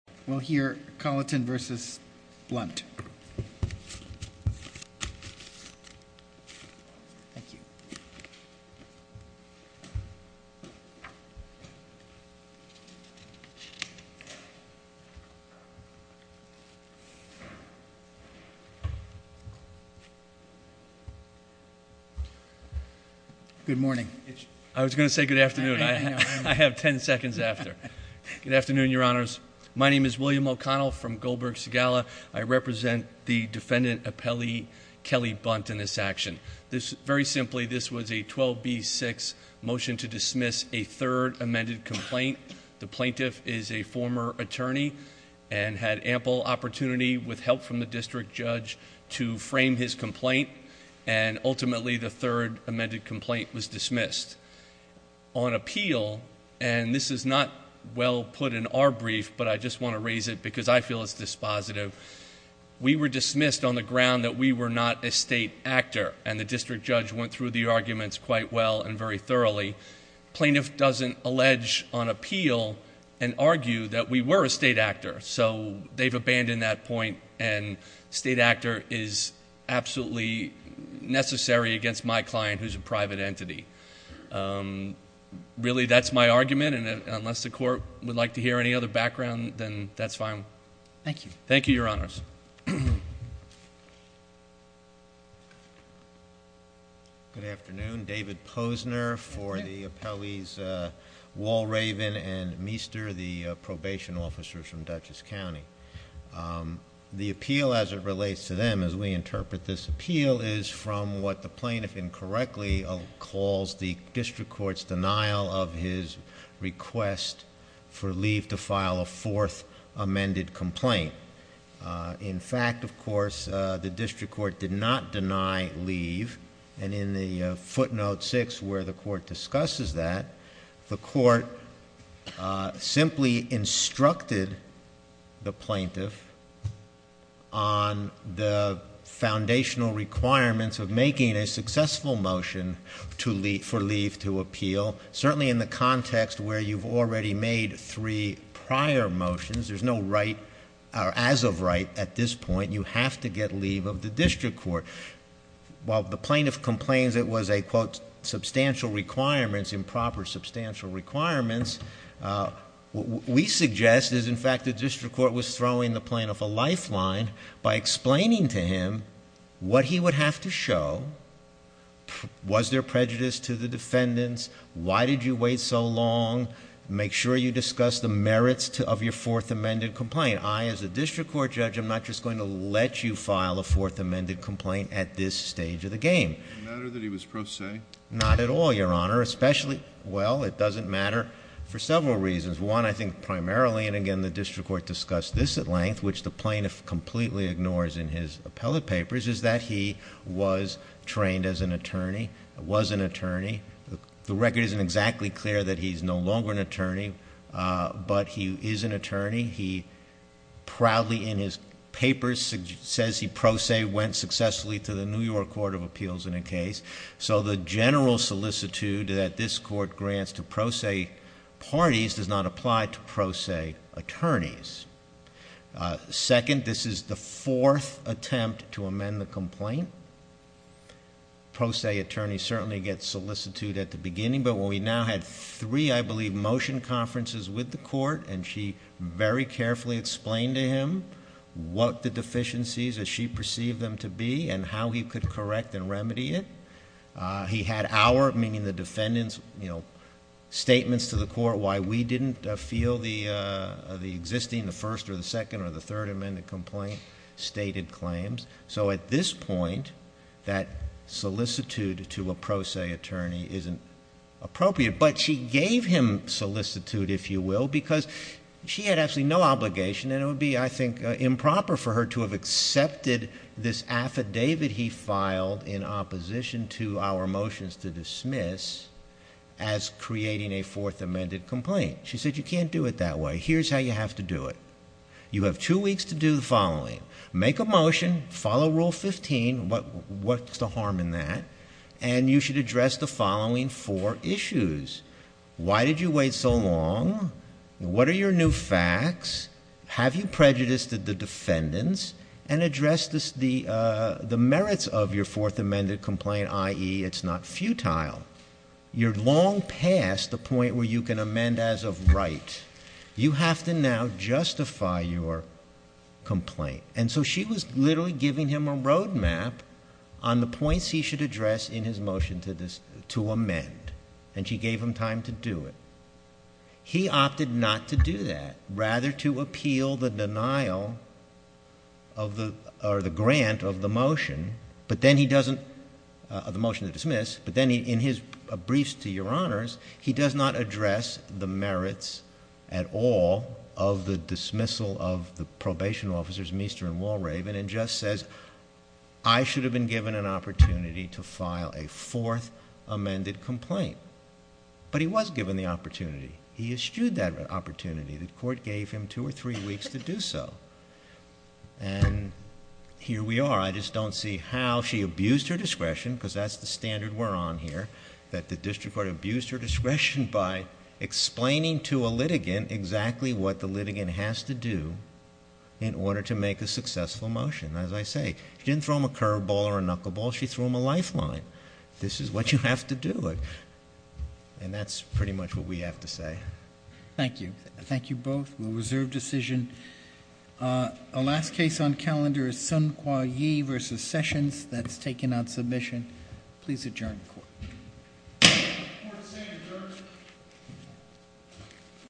Good morning. I was going to say good afternoon. I have ten seconds after. Good afternoon, your honors. My name is William O'Connell from Goldberg Segala. I represent the defendant appellee Kelly Bunt in this action. Very simply, this was a 12B6 motion to dismiss a third amended complaint. The plaintiff is a former attorney and had ample opportunity with help from the district judge to frame his complaint and ultimately the third amended complaint was dismissed. On appeal, and this is not well put in our brief but I just want to raise it because I feel it's dispositive, we were dismissed on the ground that we were not a state actor and the district judge went through the arguments quite well and very thoroughly. The plaintiff doesn't allege on appeal and argue that we were a state actor so they've abandoned that point and state actor is absolutely necessary against my client who is a private entity. Really, that's my argument and unless the court would like to hear any other background, then that's fine. Thank you, your honors. Good afternoon. David Posner for the appellees Walraven and Meester, the probation officers from Dutchess County. The appeal as it relates to them as we interpret this appeal is from what the plaintiff incorrectly calls the district court's denial of his request for leave to file a fourth amended complaint. In fact, of course, the district court did not deny leave and in the footnote six where the court discusses that, the court simply instructed the plaintiff on the foundational requirements of making a successful motion for leave to appeal. Certainly in the context where you've already made three prior motions, there's no right or as of right at this point, you have to get leave of the district court. While the plaintiff complains it was a quote substantial requirements, improper substantial requirements, what we suggest is in fact the district court was throwing the plaintiff a lifeline by explaining to him what he would have to show. Was there prejudice to the defendants? Why did you wait so long? Make sure you discuss the merits of your fourth amended complaint. I as a district court judge, I'm not just going to let you file a fourth amended complaint at this stage of the game. No matter that he was pro se? Not at all, your honor. Especially, well, it doesn't matter for several reasons. One, I think primarily, and again, the district court discussed this at length, which the plaintiff completely ignores in his appellate papers, is that he was trained as an attorney, was an attorney. The record isn't exactly clear that he's no longer an attorney, but he is an attorney. He proudly in his papers says he pro se went successfully to the New York case, so the general solicitude that this court grants to pro se parties does not apply to pro se attorneys. Second, this is the fourth attempt to amend the complaint. Pro se attorneys certainly get solicitude at the beginning, but when we now had three, I believe, motion conferences with the court and she very carefully explained to him what the deficiencies, as she perceived them to be, and how he could correct and remedy it. He had our, meaning the defendant's, statements to the court why we didn't feel the existing, the first or the second or the third amended complaint stated claims. So at this point, that solicitude to a pro se attorney isn't appropriate, but she gave him solicitude, if you will, because she had absolutely no obligation and it would be, I think, improper for her to have accepted this affidavit he filed in opposition to our motions to dismiss as creating a fourth amended complaint. She said you can't do it that way. Here's how you have to do it. You have two weeks to do the following. Make a motion, follow rule 15, what's the harm in that, and you should address the following four issues. Why did you wait so long? What are your new facts? Have you prejudiced the defendants? And address the merits of your fourth amended complaint, i.e., it's not futile. You're long past the point where you can amend as of right. You have to now justify your complaint. And so she was literally giving him a road map on the points he should address in his motion to amend, and she gave him time to do it. He opted not to do that. Rather to appeal the denial of the, or the grant of the motion, but then he doesn't, the motion to dismiss, but then in his briefs to your honors, he does not address the merits at all of the dismissal of the probation officers, Meester and Walraven, and just says I should have been given an opportunity to file a fourth amended complaint. But he was given the opportunity. He eschewed that opportunity. The court gave him two or three weeks to do so. And here we are. I just don't see how she abused her discretion, because that's the standard we're on here, that the district court abused her discretion by explaining to a litigant exactly what the litigant has to do in order to make a successful motion. And as I say, she didn't throw him a curveball or a knuckleball. She threw him a lifeline. This is what you have to do. And that's pretty much what we have to say. Thank you. Thank you both. We'll reserve decision. Our last case on calendar is Sun Kwa Yee v. Sessions. That's taken on submission. Please adjourn the court.